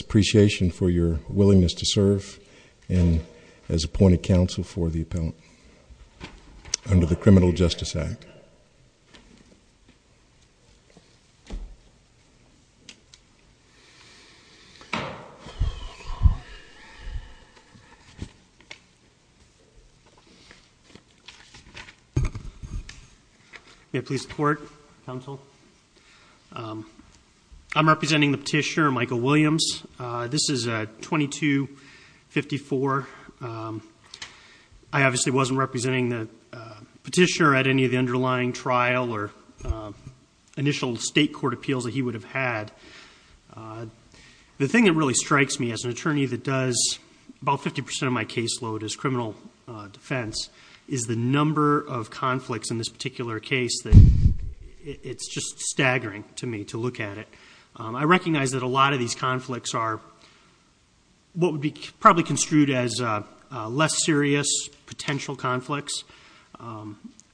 appreciation for your willingness to serve and as appointed counsel for the appellant under the Criminal Justice Act please support counsel I'm representing the petitioner Michael Williams this is a 2254 I obviously wasn't representing the petitioner at any of the underlying trial or initial state court appeals that he would have had the thing that really strikes me as an attorney that does about 50% of my caseload as criminal defense is the number of conflicts in this particular case that it's just staggering to me to look at it I recognize that a lot of these conflicts are what would be probably construed as less serious potential conflicts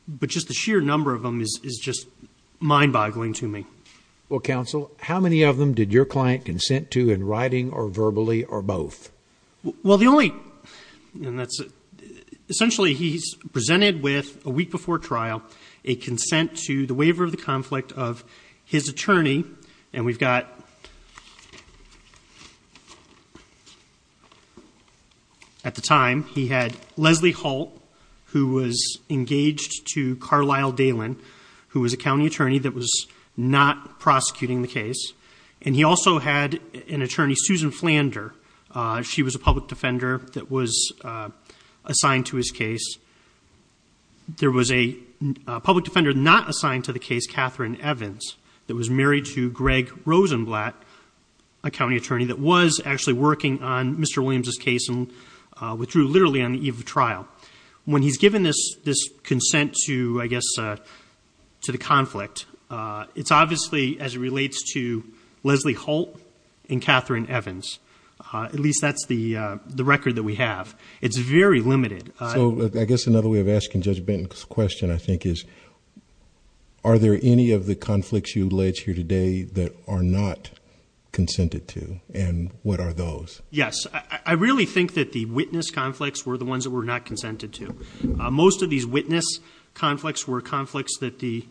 but just the sheer number of them is is just mind-boggling to me well counsel how many of them did your client consent to in writing or verbally or both well the only and that's it essentially he's presented with a week before trial a consent to the waiver of the conflict of his attorney and we've got at the time he had Leslie Hall who was engaged to Carlisle Dalyn who was a county attorney that was not prosecuting the case and he also had an attorney Susan Flander she was a public defender that was assigned to his case there was a public defender not assigned to the case Catherine Evans that was married to Susan Blatt a county attorney that was actually working on Mr. Williams's case and withdrew literally on the eve of trial when he's given this this consent to I guess to the conflict it's obviously as it relates to Leslie Holt and Catherine Evans at least that's the the record that we have it's very limited so I guess another way of asking Judge Benton's question I think is are there any of the conflicts you alleged here today that are not consented to and what are those yes I really think that the witness conflicts were the ones that were not consented to most of these witness conflicts were conflicts that the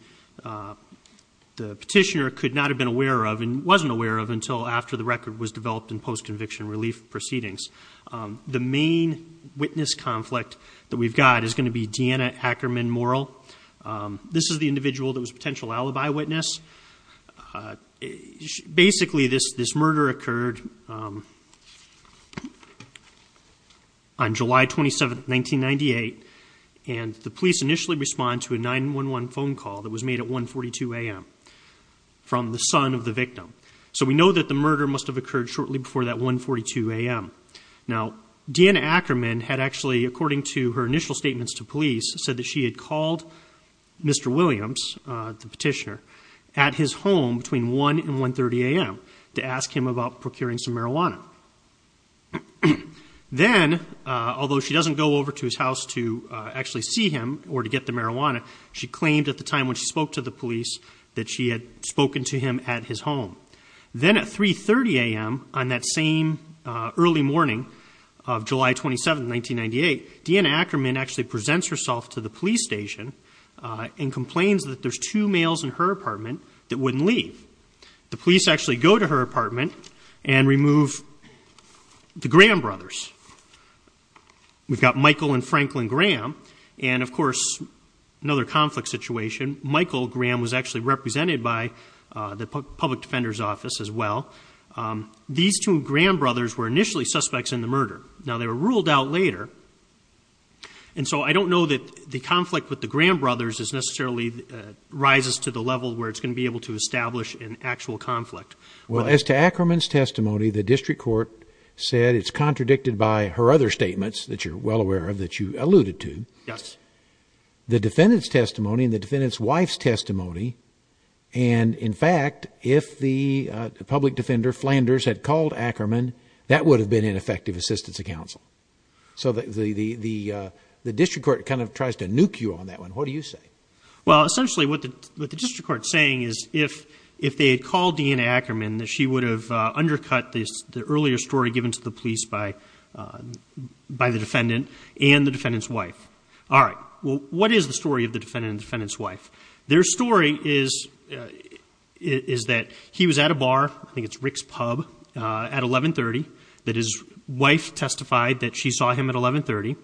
the petitioner could not have been aware of and wasn't aware of until after the record was developed in post conviction relief proceedings the main witness conflict that we've got is going to be Deanna Ackerman moral this is the individual that was potential alibi witness basically this this murder occurred on July 27th 1998 and the police initially respond to a 9-1-1 phone call that was made at 142 a.m. from the son of the victim so we know that the murder must have occurred shortly before that 142 a.m. now Deanna Ackerman had actually according to her initial statements to police said that she had Mr. Williams the petitioner at his home between 1 and 1 30 a.m. to ask him about procuring some marijuana then although she doesn't go over to his house to actually see him or to get the marijuana she claimed at the time when she spoke to the police that she had spoken to him at his home then at 3 30 a.m. on that same early morning of July 27th 1998 Deanna Ackerman actually presents herself to the police station and complains that there's two males in her apartment that wouldn't leave the police actually go to her apartment and remove the Graham brothers we've got Michael and Franklin Graham and of course another conflict situation Michael Graham was actually represented by the public defender's office as well these two Graham brothers were initially suspects in the murder now they were ruled out later and so I don't know that the conflict with the Graham brothers is necessarily rises to the level where it's going to be able to establish an actual conflict well as to Ackerman's testimony the district court said it's contradicted by her other statements that you're well aware of that you alluded to yes the defendants testimony and the defendants wife's testimony and in fact if the public defender Flanders had called Ackerman that would have been ineffective assistance of counsel so that the the the the district court kind of tries to nuke you on that one what do you say well essentially what the district court saying is if if they had called in Ackerman that she would have undercut this the earlier story given to the police by by the defendant and the defendants wife all right well what is the story of the defendant defendants wife their story is is that he was at a bar I think it's Rick's pub at 1130 that his wife testified that she saw him at 1130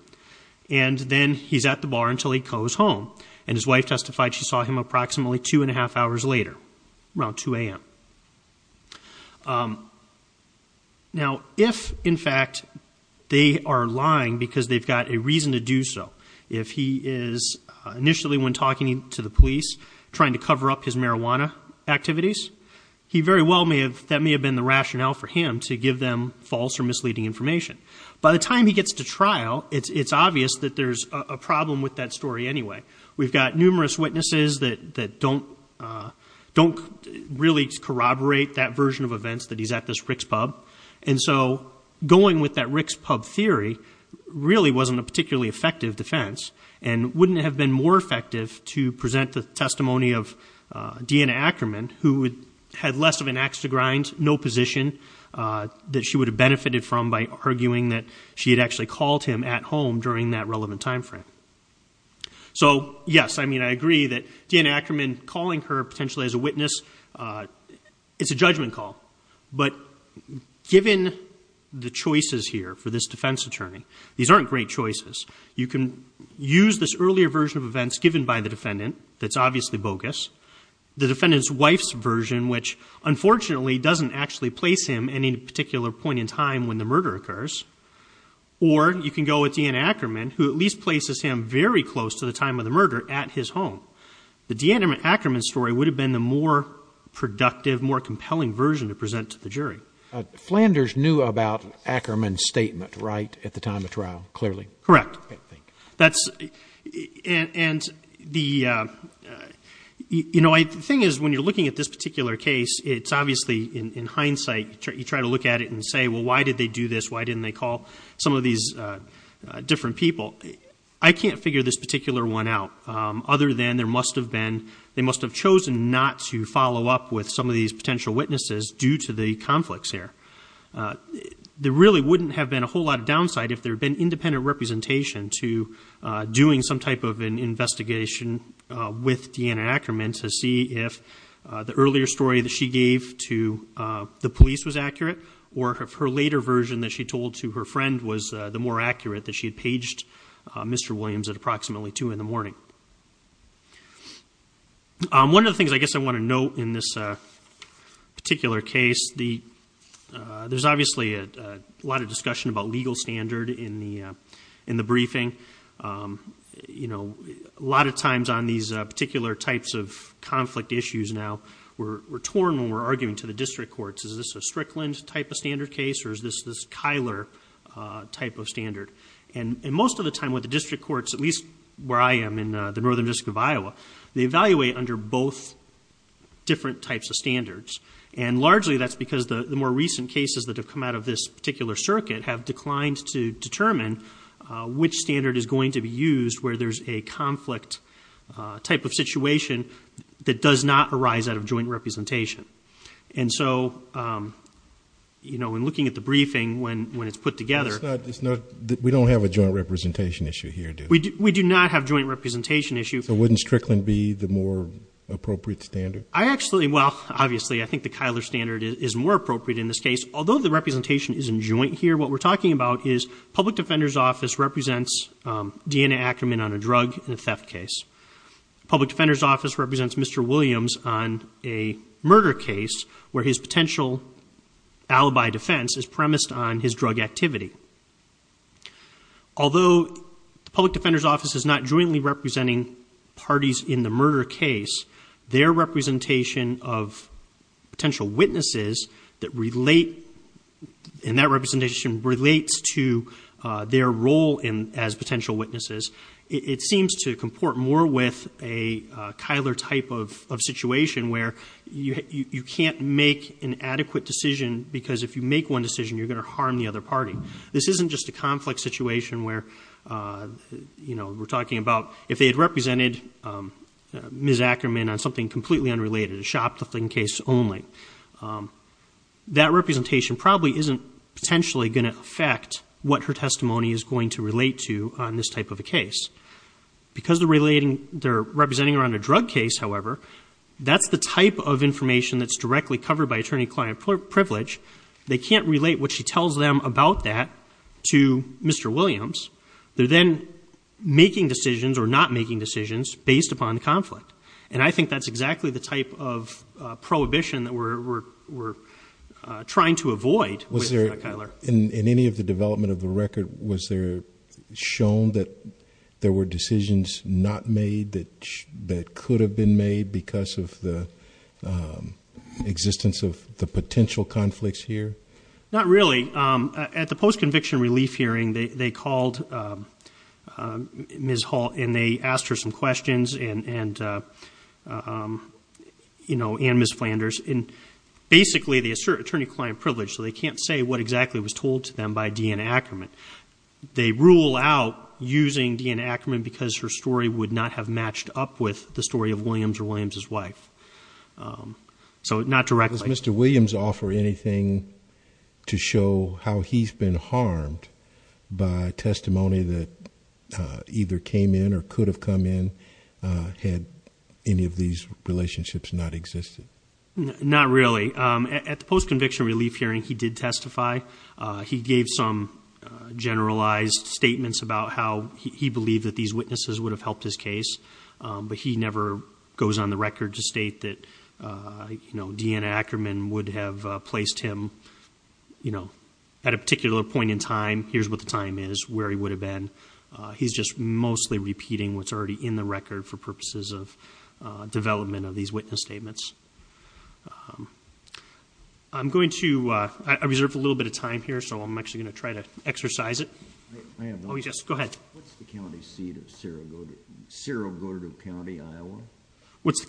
and then he's at the bar until he goes home and his wife testified she saw him approximately two and a half hours later around 2 a.m. now if in fact they are lying because they've got a reason to do so if he is initially when talking to the police trying to cover up his marijuana activities he very well may have that may have been the rationale for him to give them false or misleading information by the time he gets to trial it's it's obvious that there's a problem with that story anyway we've got numerous witnesses that that don't don't really corroborate that version of events that he's at this Rick's pub and so going with that Rick's pub theory really wasn't a particularly effective defense and wouldn't have been more effective to present the testimony of Deanna Ackerman who had less of an axe to grind no position that she would have benefited from by arguing that she had actually called him at home during that relevant time frame so yes I mean I agree that Deanna Ackerman calling her potentially as a witness it's a judgment call but given the choices here for this defense attorney these aren't great events given by the defendant that's obviously bogus the defendant's wife's version which unfortunately doesn't actually place him any particular point in time when the murder occurs or you can go at the end Ackerman who at least places him very close to the time of the murder at his home the Deanna Ackerman story would have been the more productive more compelling version to present to the jury Flanders knew about Ackerman statement right at the time of and the you know I think is when you're looking at this particular case it's obviously in hindsight you try to look at it and say well why did they do this why didn't they call some of these different people I can't figure this particular one out other than there must have been they must have chosen not to follow up with some of these potential witnesses due to the conflicts here there really wouldn't have been a whole lot of downside if there had been of an investigation with Deanna Ackerman to see if the earlier story that she gave to the police was accurate or her later version that she told to her friend was the more accurate that she had paged mr. Williams at approximately 2 in the morning one of the things I guess I want to note in this particular case the there's obviously a lot of discussion about legal standard in the in the briefing you know a lot of times on these particular types of conflict issues now we're torn when we're arguing to the district courts is this a Strickland type of standard case or is this this Kyler type of standard and most of the time with the district courts at least where I am in the northern district of Iowa they evaluate under both different types of standards and largely that's because the more recent cases that have particular circuit have declined to determine which standard is going to be used where there's a conflict type of situation that does not arise out of joint representation and so you know when looking at the briefing when when it's put together it's not that we don't have a joint representation issue here do we do not have joint representation issue so wouldn't Strickland be the more appropriate standard I actually well obviously I think the Kyler standard is more appropriate in this case although the representation isn't joint here what we're talking about is public defender's office represents Deanna Ackerman on a drug in a theft case public defender's office represents mr. Williams on a murder case where his potential alibi defense is premised on his drug activity although the public defender's office is not jointly representing parties in the that relate in that representation relates to their role in as potential witnesses it seems to comport more with a Kyler type of situation where you can't make an adequate decision because if you make one decision you're going to harm the other party this isn't just a conflict situation where you know we're talking about if they had represented miss Ackerman on something completely unrelated a shoplifting case only that representation probably isn't potentially going to affect what her testimony is going to relate to on this type of a case because the relating they're representing around a drug case however that's the type of information that's directly covered by attorney client privilege they can't relate what she tells them about that to mr. Williams they're then making decisions or not making decisions based upon the type of prohibition that we're trying to avoid was there in any of the development of the record was there shown that there were decisions not made that that could have been made because of the existence of the potential conflicts here not really at the post-conviction relief hearing they called ms. Hall and they asked her some questions and and you know and miss Flanders in basically the assert attorney-client privilege so they can't say what exactly was told to them by Deanna Ackerman they rule out using Deanna Ackerman because her story would not have matched up with the story of Williams or Williams's wife so not directly mr. Williams offer anything to how he's been harmed by testimony that either came in or could have come in had any of these relationships not existed not really at the post conviction relief hearing he did testify he gave some generalized statements about how he believed that these witnesses would have helped his case but he never goes on the record to state that you know Deanna Ackerman would have placed him you know at a particular point in time here's what the time is where he would have been he's just mostly repeating what's already in the record for purposes of development of these witness statements I'm going to I reserved a little bit of time here so I'm actually gonna try to exercise it oh yes go ahead what's the county seat of Cerro Gordo County Iowa what's the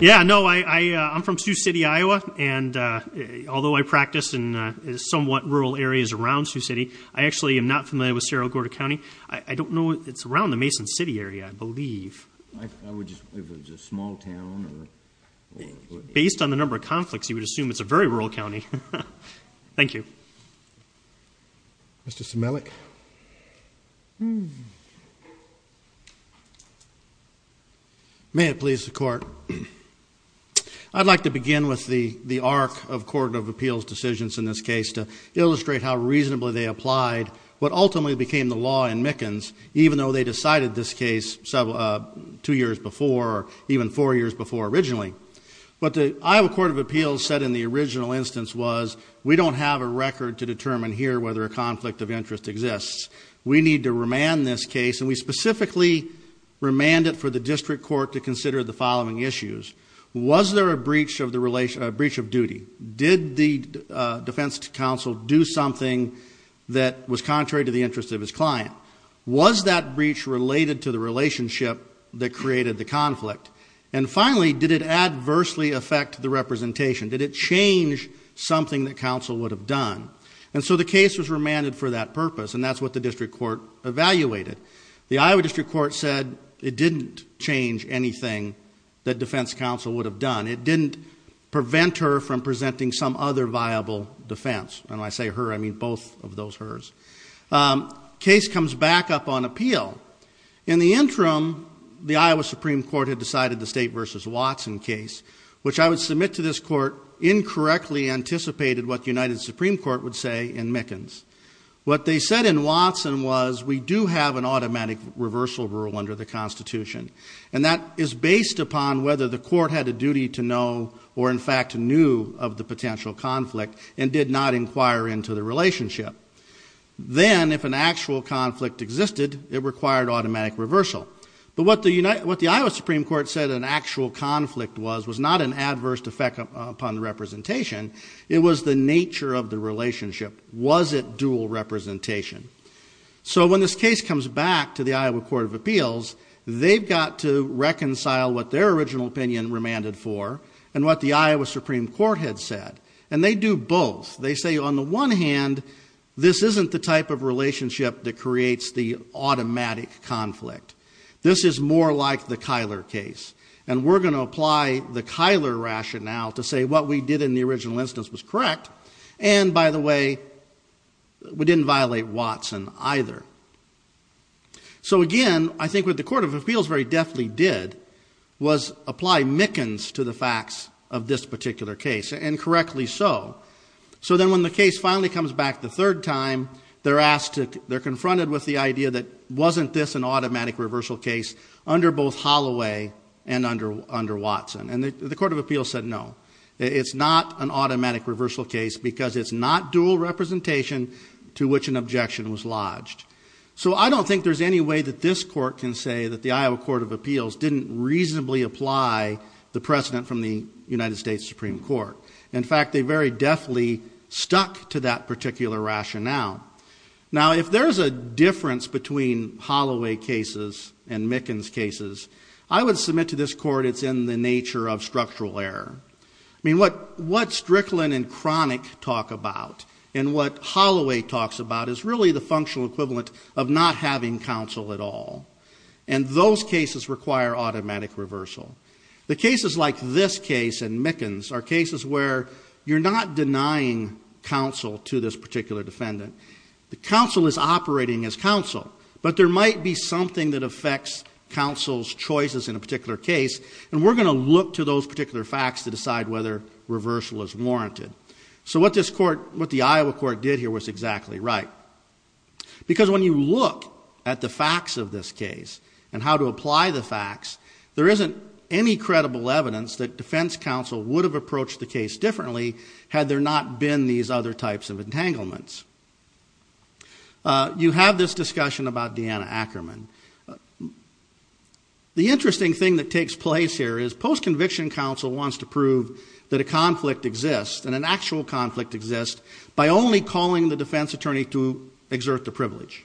yeah no I I'm from Sioux City Iowa and although I practiced in somewhat rural areas around Sioux City I actually am NOT familiar with Cerro Gordo County I don't know it's around the Mason City area I believe based on the number of conflicts you would assume it's a very rural County thank you mr. Similic hmm may it please the court I'd like to begin with the the arc of Court of Appeals decisions in this case to illustrate how reasonably they applied what ultimately became the law in Mickens even though they decided this case so two years before or even four years before originally but the Iowa Court of Appeals said in the original instance was we don't have a record to we need to remand this case and we specifically remanded for the district court to consider the following issues was there a breach of the relation a breach of duty did the defense counsel do something that was contrary to the interest of his client was that breach related to the relationship that created the conflict and finally did it adversely affect the representation did it change something that counsel would have done and so the case was remanded for that purpose and that's what the district court evaluated the Iowa District Court said it didn't change anything that defense counsel would have done it didn't prevent her from presenting some other viable defense and I say her I mean both of those hers case comes back up on appeal in the interim the Iowa Supreme Court had decided the state versus Watson case which I would submit to this court incorrectly anticipated what the United Supreme Court would say in Mickens what they said in Watson was we do have an automatic reversal rule under the Constitution and that is based upon whether the court had a duty to know or in fact knew of the potential conflict and did not inquire into the relationship then if an actual conflict existed it required automatic reversal but what the United what the Iowa Supreme Court said an actual conflict was was not an adverse effect upon representation it was the nature of the relationship was it dual representation so when this case comes back to the Iowa Court of Appeals they've got to reconcile what their original opinion remanded for and what the Iowa Supreme Court had said and they do both they say on the one hand this isn't the type of relationship that creates the automatic conflict this is more like the Kyler case and we're gonna apply the Kyler rationale to say what we did in the original instance was correct and by the way we didn't violate Watson either so again I think with the Court of Appeals very deftly did was apply Mickens to the facts of this particular case and correctly so so then when the case finally comes back the third time they're asked to they're confronted with the idea that wasn't this an automatic reversal case under both Holloway and under under Watson and the Court of Appeals said no it's not an automatic reversal case because it's not dual representation to which an objection was lodged so I don't think there's any way that this court can say that the Iowa Court of Appeals didn't reasonably apply the precedent from the United States Supreme Court in fact they very deftly stuck to that particular rationale now if there's a difference between Holloway cases and Mickens cases I would submit to this court it's in the nature of structural error I mean what what Strickland and Cronic talk about and what Holloway talks about is really the functional equivalent of not having counsel at all and those cases require automatic reversal the cases like this case and Mickens are cases where you're not denying counsel to this but there might be something that affects counsel's choices in a particular case and we're going to look to those particular facts to decide whether reversal is warranted so what this court what the Iowa court did here was exactly right because when you look at the facts of this case and how to apply the facts there isn't any credible evidence that defense counsel would have approached the case differently had there not been these other types of about Deanna Ackerman the interesting thing that takes place here is post-conviction counsel wants to prove that a conflict exists and an actual conflict exists by only calling the defense attorney to exert the privilege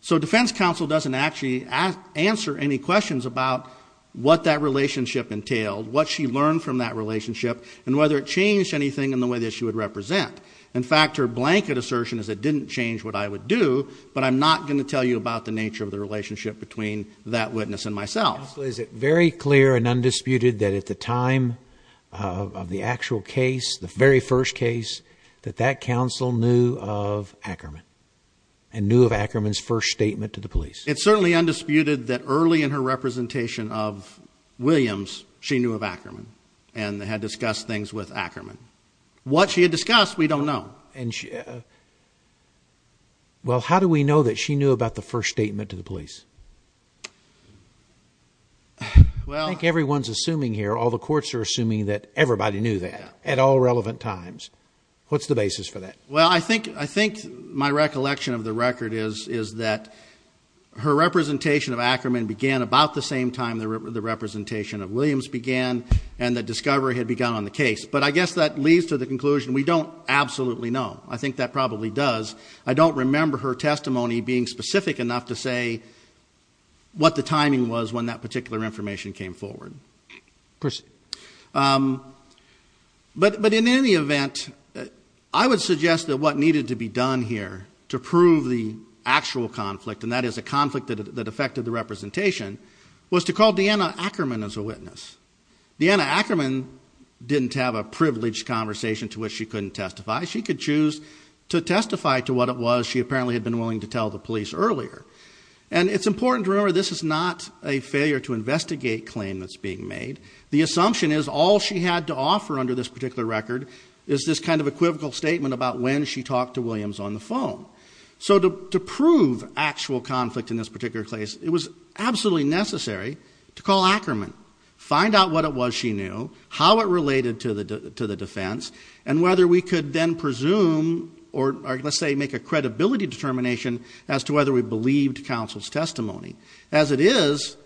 so defense counsel doesn't actually ask answer any questions about what that relationship entailed what she learned from that relationship and whether it changed anything in the way that she would represent in fact her blanket assertion is it didn't change what I would do but I'm not going to tell you about the nature of the relationship between that witness and myself is it very clear and undisputed that at the time of the actual case the very first case that that counsel knew of Ackerman and knew of Ackerman's first statement to the police it's certainly undisputed that early in her representation of Williams she knew of Ackerman and had discussed things with Ackerman what she discussed we don't know and she well how do we know that she knew about the first statement to the police well I think everyone's assuming here all the courts are assuming that everybody knew that at all relevant times what's the basis for that well I think I think my recollection of the record is is that her representation of Ackerman began about the same time there were the representation of Williams began and the discovery had begun on the case but I don't absolutely know I think that probably does I don't remember her testimony being specific enough to say what the timing was when that particular information came forward but but in any event I would suggest that what needed to be done here to prove the actual conflict and that is a conflict that affected the representation was to call Deanna Ackerman as a witness Deanna have a privileged conversation to which she couldn't testify she could choose to testify to what it was she apparently had been willing to tell the police earlier and it's important to remember this is not a failure to investigate claim that's being made the assumption is all she had to offer under this particular record is this kind of equivocal statement about when she talked to Williams on the phone so to prove actual conflict in this particular case it was absolutely necessary to call Ackerman find out what it was she knew how it related to the to the defense and whether we could then presume or let's say make a credibility determination as to whether we believed counsel's testimony as it is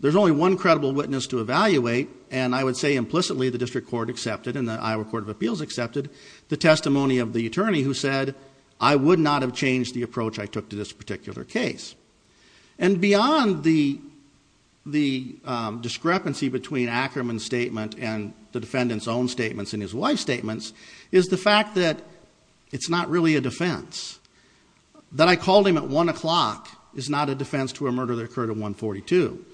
there's only one credible witness to evaluate and I would say implicitly the district court accepted in the Iowa Court of Appeals accepted the testimony of the attorney who said I would not have changed the approach I took to this particular case and beyond the the discrepancy between Ackerman statement and the defendants own statements in his wife statements is the fact that it's not really a defense that I called him at one o'clock is not a defense to a murder that occurred at 142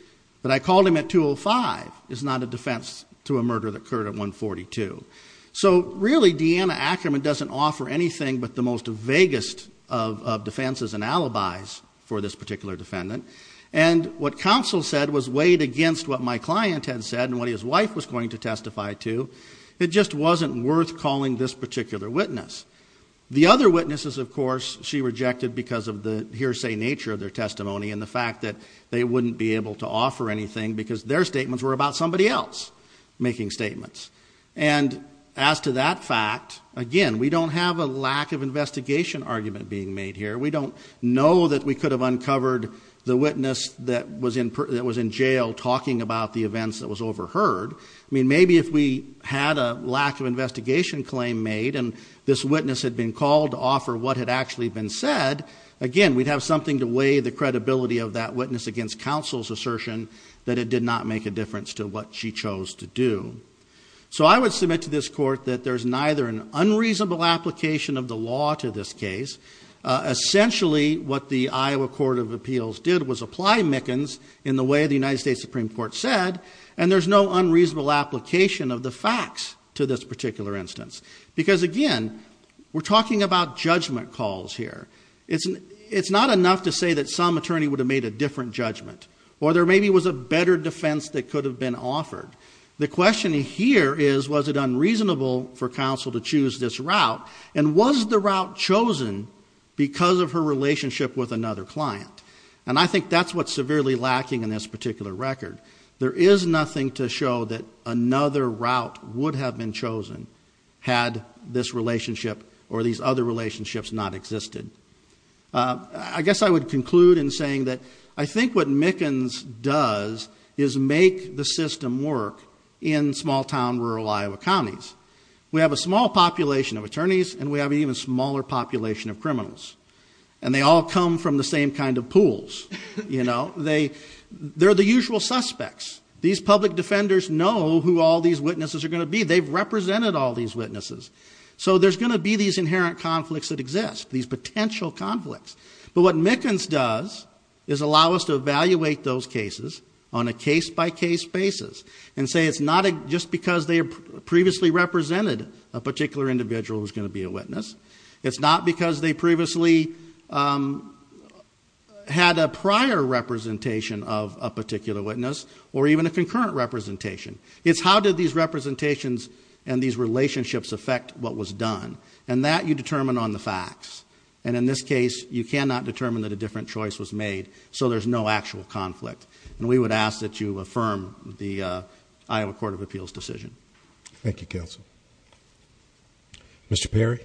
but I called him at 205 is not a defense to a murder that occurred at 142 so really Deanna Ackerman doesn't offer anything but the most vaguest of defenses and alibis for this particular defendant and what counsel said was weighed against what my client had said what his wife was going to testify to it just wasn't worth calling this particular witness the other witnesses of course she rejected because of the hearsay nature of their testimony and the fact that they wouldn't be able to offer anything because their statements were about somebody else making statements and as to that fact again we don't have a lack of investigation argument being made here we don't know that we could have uncovered the witness that was in that was in jail talking about the events that was overheard I mean maybe if we had a lack of investigation claim made and this witness had been called to offer what had actually been said again we'd have something to weigh the credibility of that witness against counsel's assertion that it did not make a difference to what she chose to do so I would submit to this court that there's neither an unreasonable application of the law to this case essentially what the Iowa Court of Appeals did was apply Mickens in the way the United States Supreme Court said and there's no unreasonable application of the facts to this particular instance because again we're talking about judgment calls here it's an it's not enough to say that some attorney would have made a different judgment or there maybe was a better defense that could have been offered the question here is was it unreasonable for the route chosen because of her relationship with another client and I think that's what's severely lacking in this particular record there is nothing to show that another route would have been chosen had this relationship or these other relationships not existed I guess I would conclude in saying that I think what Mickens does is make the system work in small-town rural Iowa counties we have a small population of attorneys and we have even smaller population of criminals and they all come from the same kind of pools you know they they're the usual suspects these public defenders know who all these witnesses are going to be they've represented all these witnesses so there's going to be these inherent conflicts that exist these potential conflicts but what Mickens does is allow us to evaluate those cases on a case-by- case basis so it's not because they previously represented a particular individual who's going to be a witness it's not because they previously had a prior representation of a particular witness or even a concurrent representation it's how did these representations and these relationships affect what was done and that you determine on the facts and in this case you cannot determine that a different choice was made so there's no actual conflict and we would ask that you affirm the Iowa Court of Appeals decision thank you counsel mr. Perry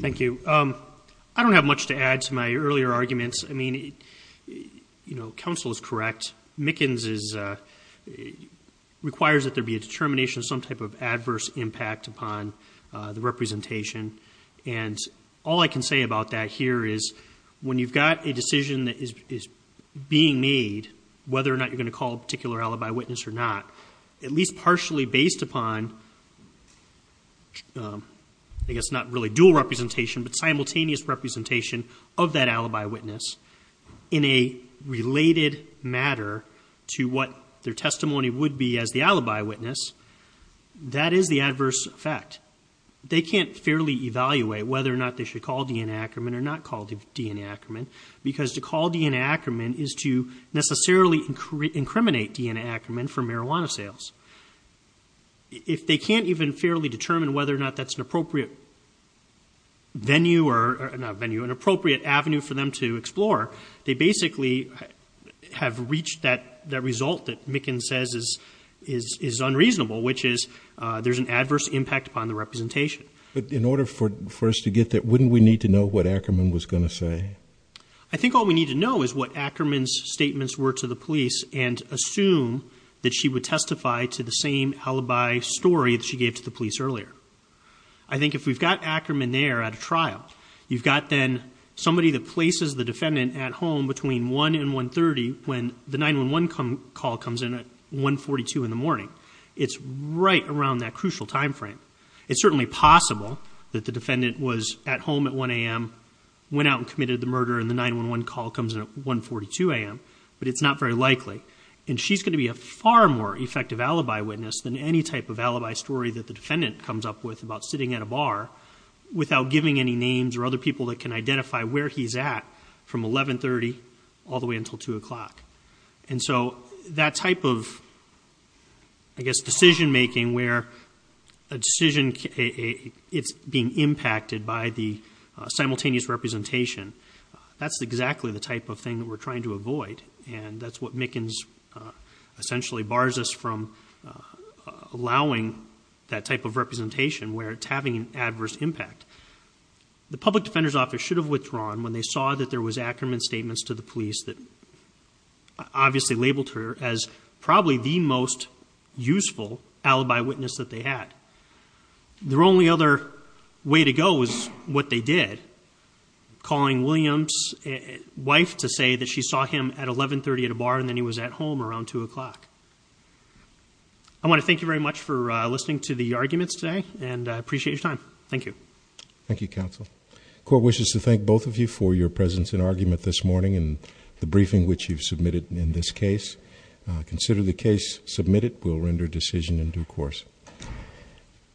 thank you I don't have much to add to my earlier arguments I mean you know counsel is correct Mickens is requires that there be a determination of some and all I can say about that here is when you've got a decision that is being made whether or not you're going to call a particular alibi witness or not at least partially based upon I guess not really dual representation but simultaneous representation of that alibi witness in a related matter to what their testimony would be as the alibi witness that is the adverse effect they can't fairly evaluate whether or not they should call DNA Ackerman or not called DNA Ackerman because to call DNA Ackerman is to necessarily incriminate DNA Ackerman for marijuana sales if they can't even fairly determine whether or not that's an appropriate venue or not venue an appropriate Avenue for them to explore they basically have reached that that result that Mickens says is is unreasonable which is there's an adverse impact upon the representation but in order for for us to get that wouldn't we need to know what Ackerman was going to say I think all we need to know is what Ackerman's statements were to the police and assume that she would testify to the same alibi story that she gave to the police earlier I think if we've got Ackerman there at a trial you've got then somebody that places the defendant at home between 1 and 130 when the 911 come call comes in at 142 in the morning it's right around that crucial time frame it's certainly possible that the defendant was at home at 1 a.m. went out and committed the murder and the 911 call comes in at 142 a.m. but it's not very likely and she's going to be a far more effective alibi witness than any type of alibi story that the defendant comes up with about sitting at a bar without giving any names or other people that can identify where he's at from 1130 all the way until 2 o'clock and so that type of I guess decision-making where a decision it's being impacted by the simultaneous representation that's exactly the type of thing that we're trying to avoid and that's what Mickens essentially bars us from allowing that type of representation where it's having an adverse impact the public defender's office should have withdrawn when they obviously labeled her as probably the most useful alibi witness that they had their only other way to go is what they did calling Williams wife to say that she saw him at 1130 at a bar and then he was at home around 2 o'clock I want to thank you very much for listening to the arguments today and I appreciate your time thank you thank you counsel court wishes to thank both of you for your presence in argument this morning and the briefing which you've submitted in this case consider the case submitted will render decision in due course